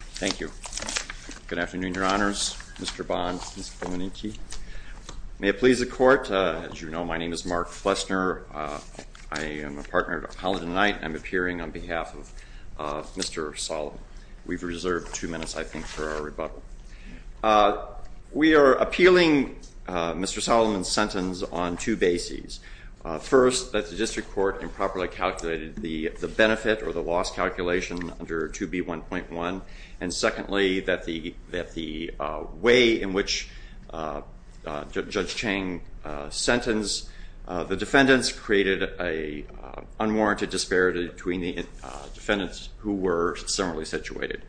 Thank you. Good afternoon, Your Honors. Mr. Bond, Ms. Blumenicke. May it please the Court, as you know, my name is Mark Flessner. I am a partner at Appalachian Night, and I'm appearing on behalf of Mr. Solomon. We've reserved two minutes, I think, for our rebuttal. We are appealing Mr. Solomon's sentence on two bases. First, that the District Court improperly calculated the benefit or the loss calculation under 2B1.1, and secondly, that the way in which Judge Chang sentenced the defendants created an unwarranted disparity between the defendants who were similarly situated.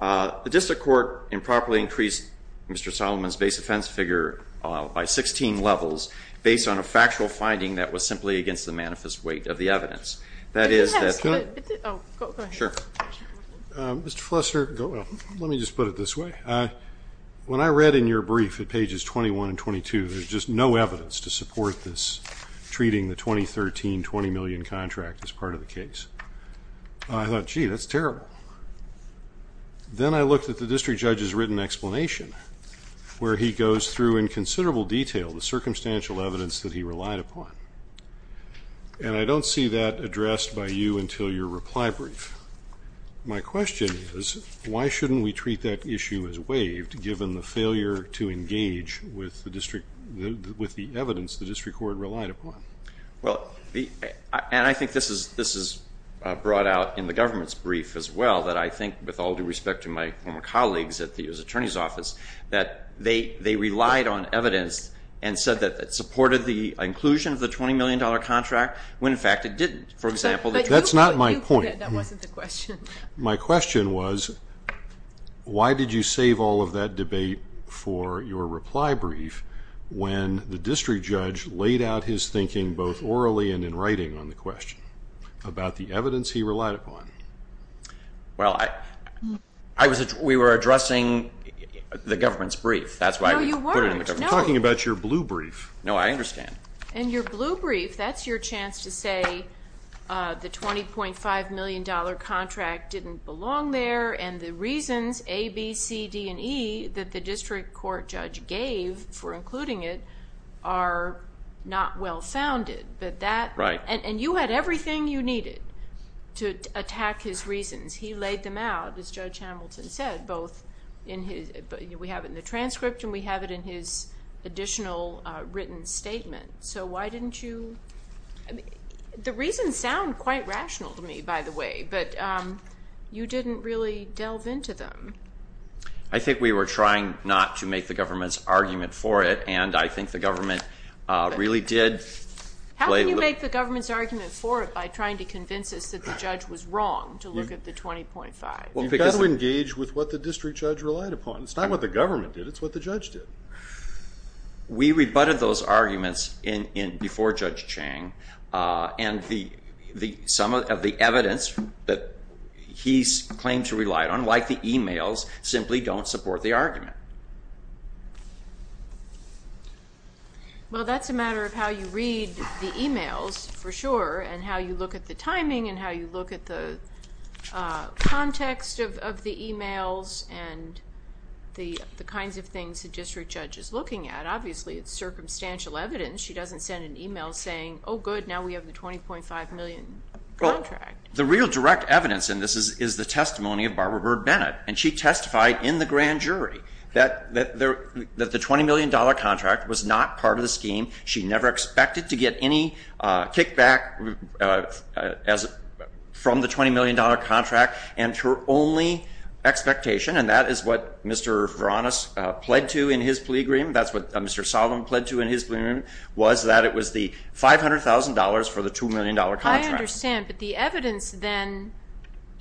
The District Court improperly increased Mr. Solomon's base offense figure by 16 levels, based on a factual finding that was simply against the manifest weight of the evidence. That is, that... Mr. Flessner, let me just put it this way. When I read in your brief at pages 21 and 22, there's just no evidence to support this, treating the 2013 $20 million contract as part of the case. I thought, gee, that's terrible. Then I looked at the District Judge's written explanation, where he goes through in considerable detail the circumstantial evidence that he relied upon. And I don't see that addressed by you until your reply brief. My question is, why shouldn't we treat that issue as waived, given the failure to engage with the evidence the District Court relied upon? Well, and I think this is brought out in the government's brief as well, that I think, with all due respect to my former colleagues at the U.S. Attorney's Office, that they relied on evidence and said that it supported the inclusion of the $20 million contract, when in fact it didn't. That's not my point. That wasn't the question. My question was, why did you save all of that debate for your reply brief when the District Judge laid out his thinking both orally and in writing on the question about the evidence he relied upon? Well, we were addressing the government's brief. That's why we put it in the government's brief. No, you weren't. I'm talking about your blue brief. No, I understand. And your blue brief, that's your chance to say the $20.5 million contract didn't belong there, and the reasons A, B, C, D, and E that the District Court judge gave for including it are not well-founded. Right. And you had everything you needed to attack his reasons. He laid them out, as Judge Hamilton said, both in his we have it in the transcript and we have it in his additional written statement. So why didn't you? The reasons sound quite rational to me, by the way, but you didn't really delve into them. I think we were trying not to make the government's argument for it, and I think the government really did play a little. You made the government's argument for it by trying to convince us that the judge was wrong to look at the $20.5. You've got to engage with what the district judge relied upon. It's not what the government did. It's what the judge did. We rebutted those arguments before Judge Chang, and some of the evidence that he claimed to rely on, like the e-mails, simply don't support the argument. Well, that's a matter of how you read the e-mails, for sure, and how you look at the timing and how you look at the context of the e-mails and the kinds of things the district judge is looking at. Obviously, it's circumstantial evidence. She doesn't send an e-mail saying, oh, good, now we have the $20.5 million contract. The real direct evidence in this is the testimony of Barbara Bird Bennett, and she testified in the grand jury that the $20 million contract was not part of the scheme. She never expected to get any kickback from the $20 million contract, and her only expectation, and that is what Mr. Varonis pled to in his plea agreement, that's what Mr. Solomon pled to in his plea agreement, was that it was the $500,000 for the $2 million contract. I understand, but the evidence then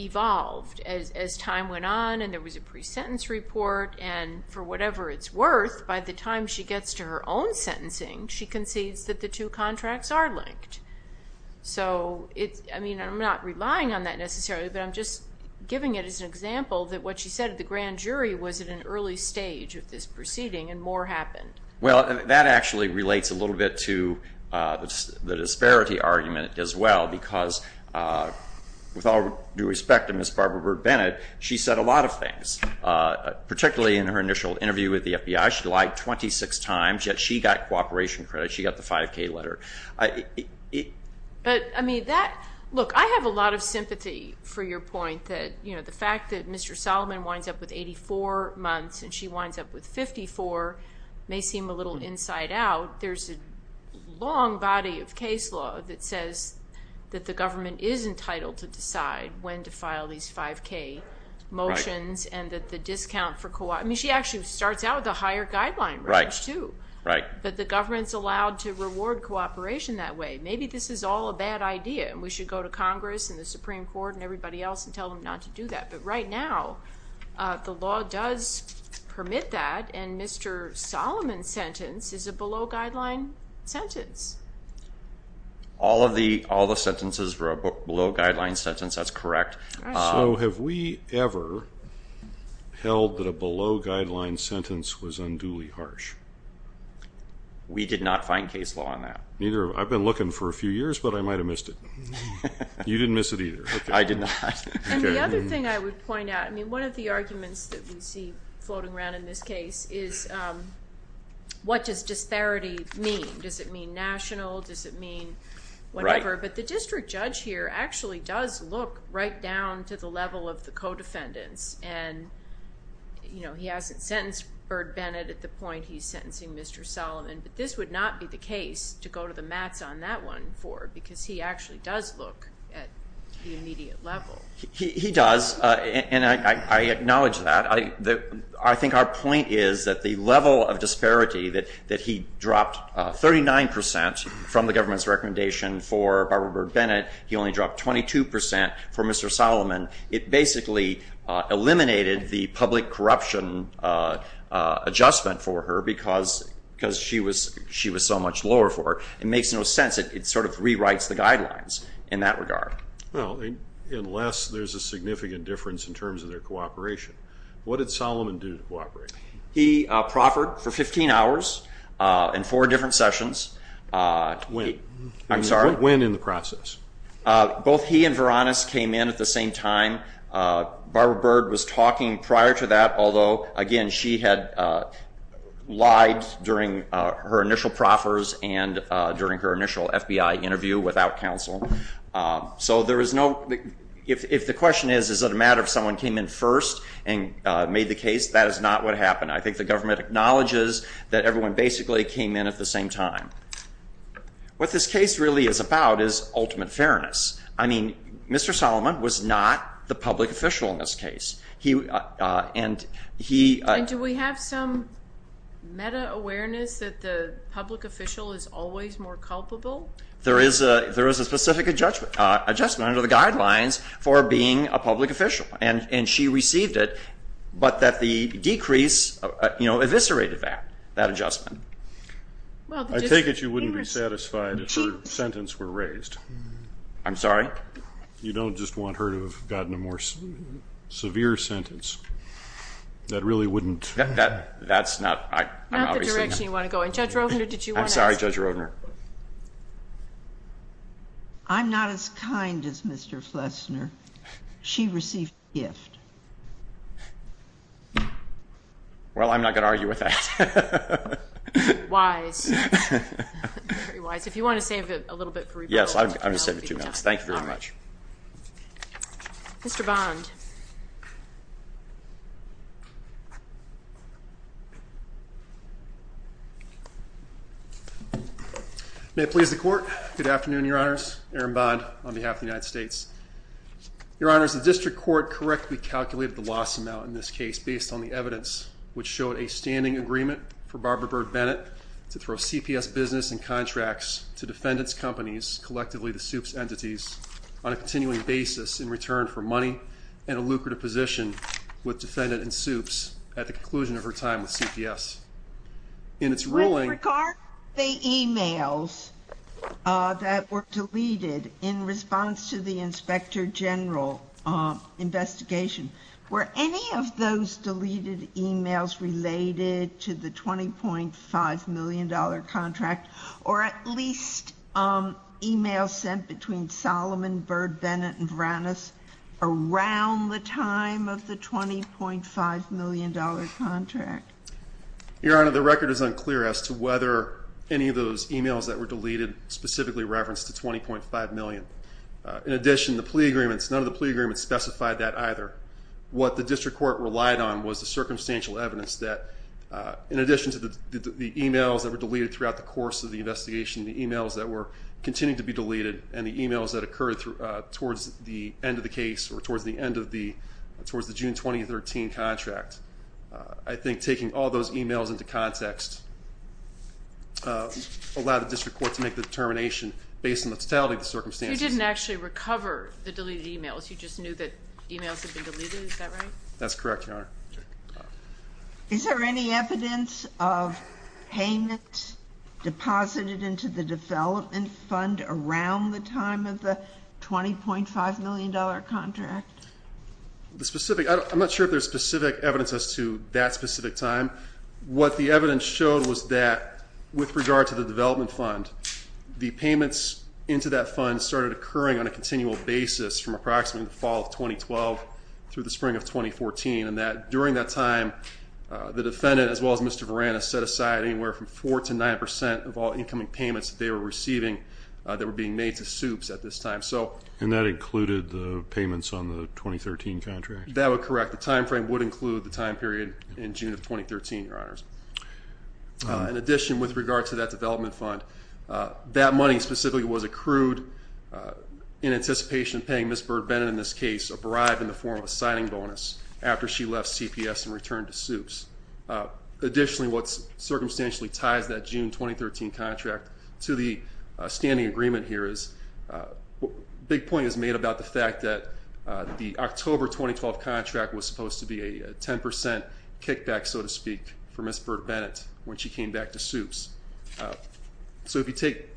evolved as time went on and there was a pre-sentence report, and for whatever it's worth, by the time she gets to her own sentencing, she concedes that the two contracts are linked. I'm not relying on that necessarily, but I'm just giving it as an example that what she said at the grand jury was at an early stage of this proceeding and more happened. Well, that actually relates a little bit to the disparity argument as well, because with all due respect to Ms. Barbara Bird Bennett, she said a lot of things, particularly in her initial interview with the FBI. She lied 26 times, yet she got cooperation credit. She got the 5K letter. But, I mean, that, look, I have a lot of sympathy for your point that, you know, the fact that Mr. Solomon winds up with 84 months and she winds up with 54 may seem a little inside out. There's a long body of case law that says that the government is entitled to decide when to file these 5K motions and that the discount for co-op, I mean, she actually starts out with a higher guideline range too, that the government's allowed to reward cooperation that way. Maybe this is all a bad idea and we should go to Congress and the Supreme Court and everybody else and tell them not to do that. But right now, the law does permit that, and Mr. Solomon's sentence is a below-guideline sentence. All of the sentences were a below-guideline sentence. That's correct. So have we ever held that a below-guideline sentence was unduly harsh? We did not find case law on that. I've been looking for a few years, but I might have missed it. You didn't miss it either. I did not. And the other thing I would point out, I mean, one of the arguments that we see floating around in this case is what does disparity mean? Does it mean national? Does it mean whatever? Right. But the district judge here actually does look right down to the level of the co-defendants and, you know, he hasn't sentenced Bird-Bennett at the point he's sentencing Mr. Solomon, but this would not be the case to go to the mats on that one for because he actually does look at the immediate level. He does, and I acknowledge that. I think our point is that the level of disparity that he dropped 39 percent from the government's recommendation for Barbara Bird-Bennett, he only dropped 22 percent for Mr. Solomon. It basically eliminated the public corruption adjustment for her because she was so much lower for it. It makes no sense. It sort of rewrites the guidelines in that regard. Well, unless there's a significant difference in terms of their cooperation. What did Solomon do to cooperate? He proffered for 15 hours in four different sessions. When? I'm sorry? When in the process? Both he and Varonis came in at the same time. Barbara Bird was talking prior to that, although, again, she had lied during her initial proffers and during her initial FBI interview without counsel. So there is no, if the question is, is it a matter of someone came in first and made the case, that is not what happened. I think the government acknowledges that everyone basically came in at the same time. What this case really is about is ultimate fairness. I mean, Mr. Solomon was not the public official in this case. And do we have some meta-awareness that the public official is always more culpable? There is a specific adjustment under the guidelines for being a public official, and she received it, but that the decrease eviscerated that adjustment. I take it you wouldn't be satisfied if her sentence were raised? I'm sorry? You don't just want her to have gotten a more severe sentence? That really wouldn't? That's not, I'm obviously not. Not the direction you want to go in. Judge Rovner, did you want to ask? I'm sorry, Judge Rovner. I'm not as kind as Mr. Flessner. She received a gift. Well, I'm not going to argue with that. Wise. Very wise. If you want to save it a little bit for rebuttal, I'll be happy to. Yes, I'm going to save it two minutes. Thank you very much. Mr. Bond. May it please the Court. Good afternoon, Your Honors. Aaron Bond on behalf of the United States. Your Honors, the District Court correctly calculated the loss amount in this case based on the evidence which showed a standing agreement for Barbara Bird Bennett to throw CPS business and contracts to defendants' companies, collectively the Supes entities, on a continuing basis in return for money and a lucrative position with defendant and Supes at the conclusion of her time with CPS. In its ruling. With regard to the emails that were deleted in response to the Inspector General investigation, were any of those deleted emails related to the $20.5 million contract or at least emails sent between Solomon, Bird, Bennett, and Varanus around the time of the $20.5 million contract? Your Honor, the record is unclear as to whether any of those emails that were deleted specifically referenced the $20.5 million. In addition, the plea agreements, none of the plea agreements specified that either. What the District Court relied on was the circumstantial evidence that, in addition to the emails that were deleted throughout the course of the investigation, the emails that were continuing to be deleted and the emails that occurred towards the end of the case or towards the end of the June 2013 contract, I think taking all those emails into context allowed the District Court to make the determination based on the totality of the circumstances. You didn't actually recover the deleted emails. You just knew that emails had been deleted. Is that right? That's correct, Your Honor. Is there any evidence of payment deposited into the development fund around the time of the $20.5 million contract? I'm not sure if there's specific evidence as to that specific time. What the evidence showed was that, with regard to the development fund, the payments into that fund started occurring on a continual basis from approximately the fall of 2012 through the spring of 2014 and that during that time the defendant, as well as Mr. Varanis, set aside anywhere from 4% to 9% of all incoming payments that they were receiving that were being made to Supes at this time. And that included the payments on the 2013 contract? That would correct. The time frame would include the time period in June of 2013, Your Honors. In addition, with regard to that development fund, that money specifically was accrued in anticipation of paying Ms. Bird-Bennett, in this case, a bribe in the form of a signing bonus after she left CPS and returned to Supes. Additionally, what circumstantially ties that June 2013 contract to the standing agreement here is a big point is made about the fact that the October 2012 contract was supposed to be a 10% kickback, so to speak, for Ms. Bird-Bennett when she came back to Supes. So if you take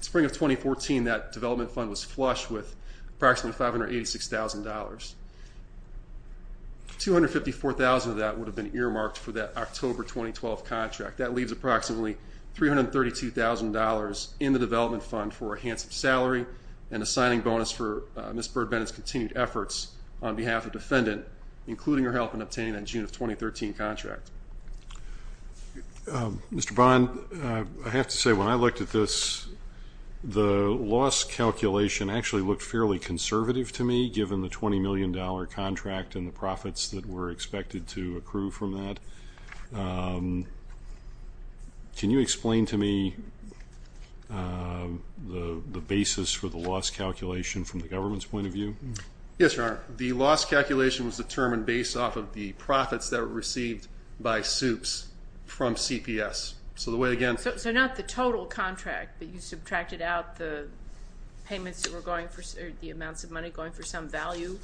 spring of 2014, that development fund was flush with approximately $586,000. $254,000 of that would have been earmarked for that October 2012 contract. That leaves approximately $332,000 in the development fund for a handsome salary and a signing bonus for Ms. Bird-Bennett's continued efforts on behalf of defendant, including her help in obtaining that June of 2013 contract. Mr. Bond, I have to say when I looked at this, the loss calculation actually looked fairly conservative to me, given the $20 million contract and the profits that were expected to accrue from that. Can you explain to me the basis for the loss calculation from the government's point of view? Yes, Your Honor. The loss calculation was determined based off of the profits that were received by Supes from CPS. So the way, again. So not the total contract, but you subtracted out the payments that were going for the amounts of money going for some value?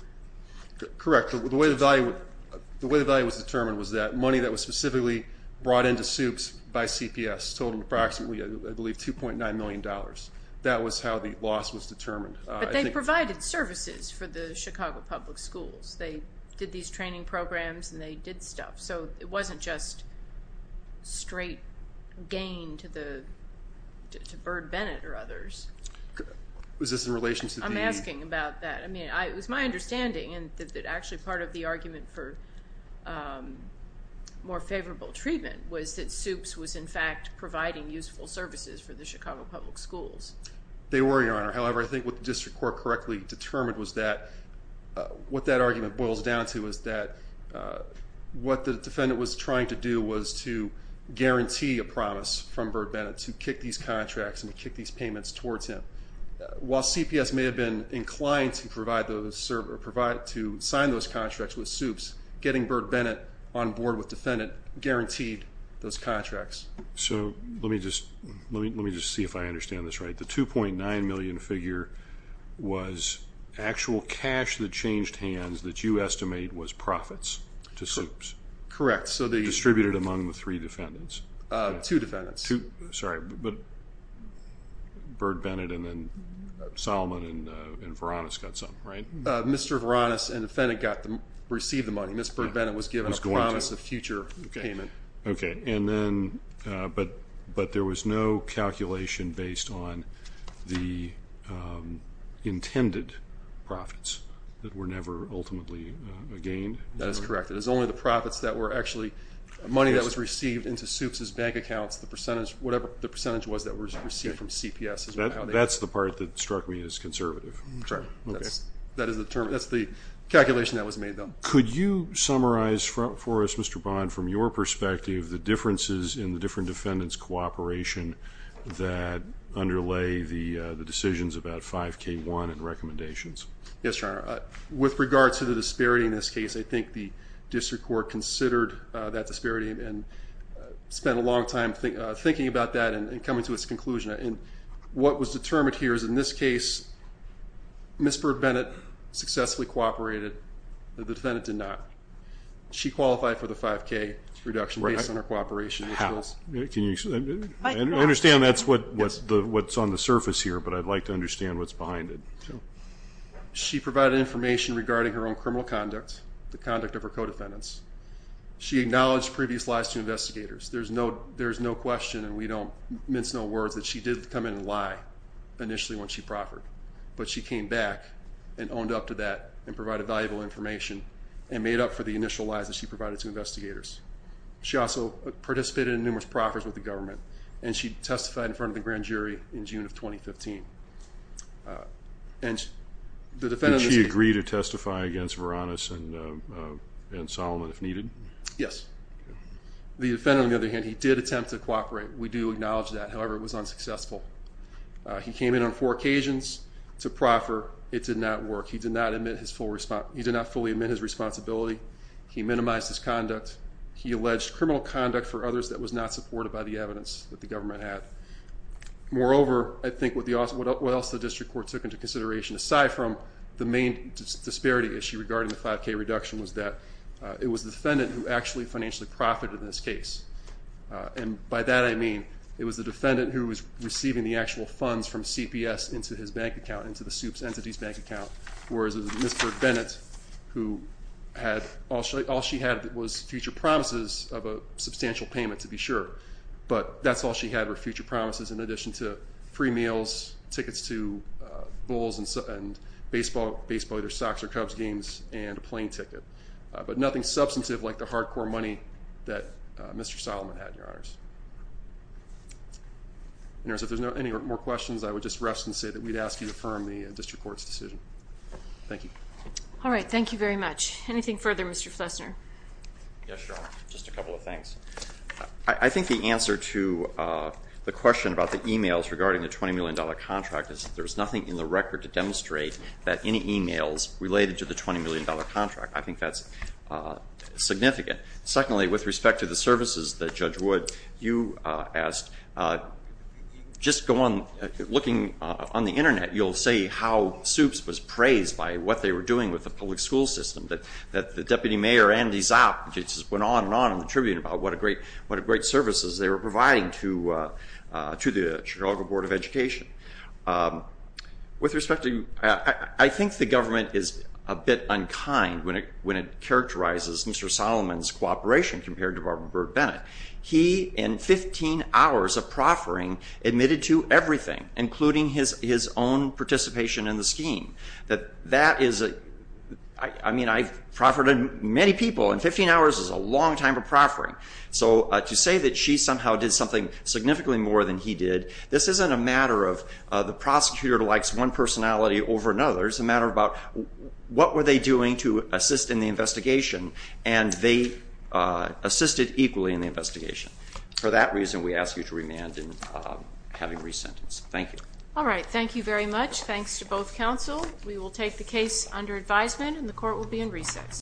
Correct. The way the value was determined was that money that was specifically brought into Supes by CPS totaled approximately, I believe, $2.9 million. That was how the loss was determined. But they provided services for the Chicago public schools. They did these training programs and they did stuff. So it wasn't just straight gain to Bird-Bennett or others. Is this in relation to the? I'm asking about that. It was my understanding that actually part of the argument for more favorable treatment was that Supes was, in fact, providing useful services for the Chicago public schools. They were, Your Honor. However, I think what the district court correctly determined was that what that argument boils down to is that what the defendant was trying to do was to guarantee a promise from Bird-Bennett to kick these contracts and kick these payments towards him. While CPS may have been inclined to sign those contracts with Supes, getting Bird-Bennett on board with defendant guaranteed those contracts. So let me just see if I understand this right. The $2.9 million figure was actual cash that changed hands that you estimate was profits to Supes. Correct. Distributed among the three defendants. Two defendants. Sorry, but Bird-Bennett and then Solomon and Varonis got some, right? Mr. Varonis and the defendant received the money. Ms. Bird-Bennett was given a promise of future payment. Okay. But there was no calculation based on the intended profits that were never ultimately gained? That is correct. It was only the profits that were actually money that was received into Supes' bank accounts, the percentage, whatever the percentage was that was received from CPS. That's the part that struck me as conservative. That's the calculation that was made, though. Could you summarize for us, Mr. Bond, from your perspective, the differences in the different defendants' cooperation that underlay the decisions about 5K1 and recommendations? Yes, Your Honor. With regard to the disparity in this case, I think the district court considered that disparity and spent a long time thinking about that and coming to its conclusion. What was determined here is in this case, Ms. Bird-Bennett successfully cooperated. The defendant did not. She qualified for the 5K reduction based on her cooperation. I understand that's what's on the surface here, but I'd like to understand what's behind it. She provided information regarding her own criminal conduct, the conduct of her co-defendants. She acknowledged previous lies to investigators. There's no question, and we don't mince no words, that she did come in and lie initially when she proffered. But she came back and owned up to that and provided valuable information and made up for the initial lies that she provided to investigators. She also participated in numerous proffers with the government, and she testified in front of the grand jury in June of 2015. Did she agree to testify against Varonis and Solomon if needed? Yes. The defendant, on the other hand, he did attempt to cooperate. We do acknowledge that. However, it was unsuccessful. He came in on four occasions to proffer. It did not work. He did not fully admit his responsibility. He minimized his conduct. He alleged criminal conduct for others that was not supported by the evidence that the government had. Moreover, I think what else the district court took into consideration, aside from the main disparity issue regarding the 5K reduction, was that it was the defendant who actually financially profited in this case. And by that I mean it was the defendant who was receiving the actual funds from CPS into his bank account, into the Supes Entity's bank account, whereas it was Mr. Bennett who had all she had was future promises of a substantial payment, to be sure. But that's all she had were future promises in addition to free meals, tickets to bowls and baseball, either soccer, Cubs games, and a plane ticket. But nothing substantive like the hardcore money that Mr. Solomon had, Your Honors. If there's any more questions, I would just rest and say that we'd ask you to confirm the district court's decision. Thank you. All right. Thank you very much. Anything further, Mr. Flessner? Yes, Your Honor. Just a couple of things. I think the answer to the question about the e-mails regarding the $20 million contract is that there's nothing in the record to demonstrate that any e-mails related to the $20 million contract. I think that's significant. Secondly, with respect to the services that Judge Wood, you asked, just looking on the Internet, you'll see how Supes was praised by what they were doing with the public school system, that Deputy Mayor Andy Zopp just went on and on in the Tribune about what great services they were providing to the Chicago Board of Education. With respect to you, I think the government is a bit unkind when it characterizes Mr. Solomon's cooperation compared to Barbara Bird Bennett. He, in 15 hours of proffering, admitted to everything, including his own participation in the scheme. That is a – I mean, I've proffered on many people, and 15 hours is a long time of proffering. So to say that she somehow did something significantly more than he did, this isn't a matter of the prosecutor likes one personality over another. It's a matter about what were they doing to assist in the investigation, and they assisted equally in the investigation. For that reason, we ask you to remand in having re-sentence. Thank you. All right. Thank you very much. Thanks to both counsel. We will take the case under advisement, and the court will be in recess.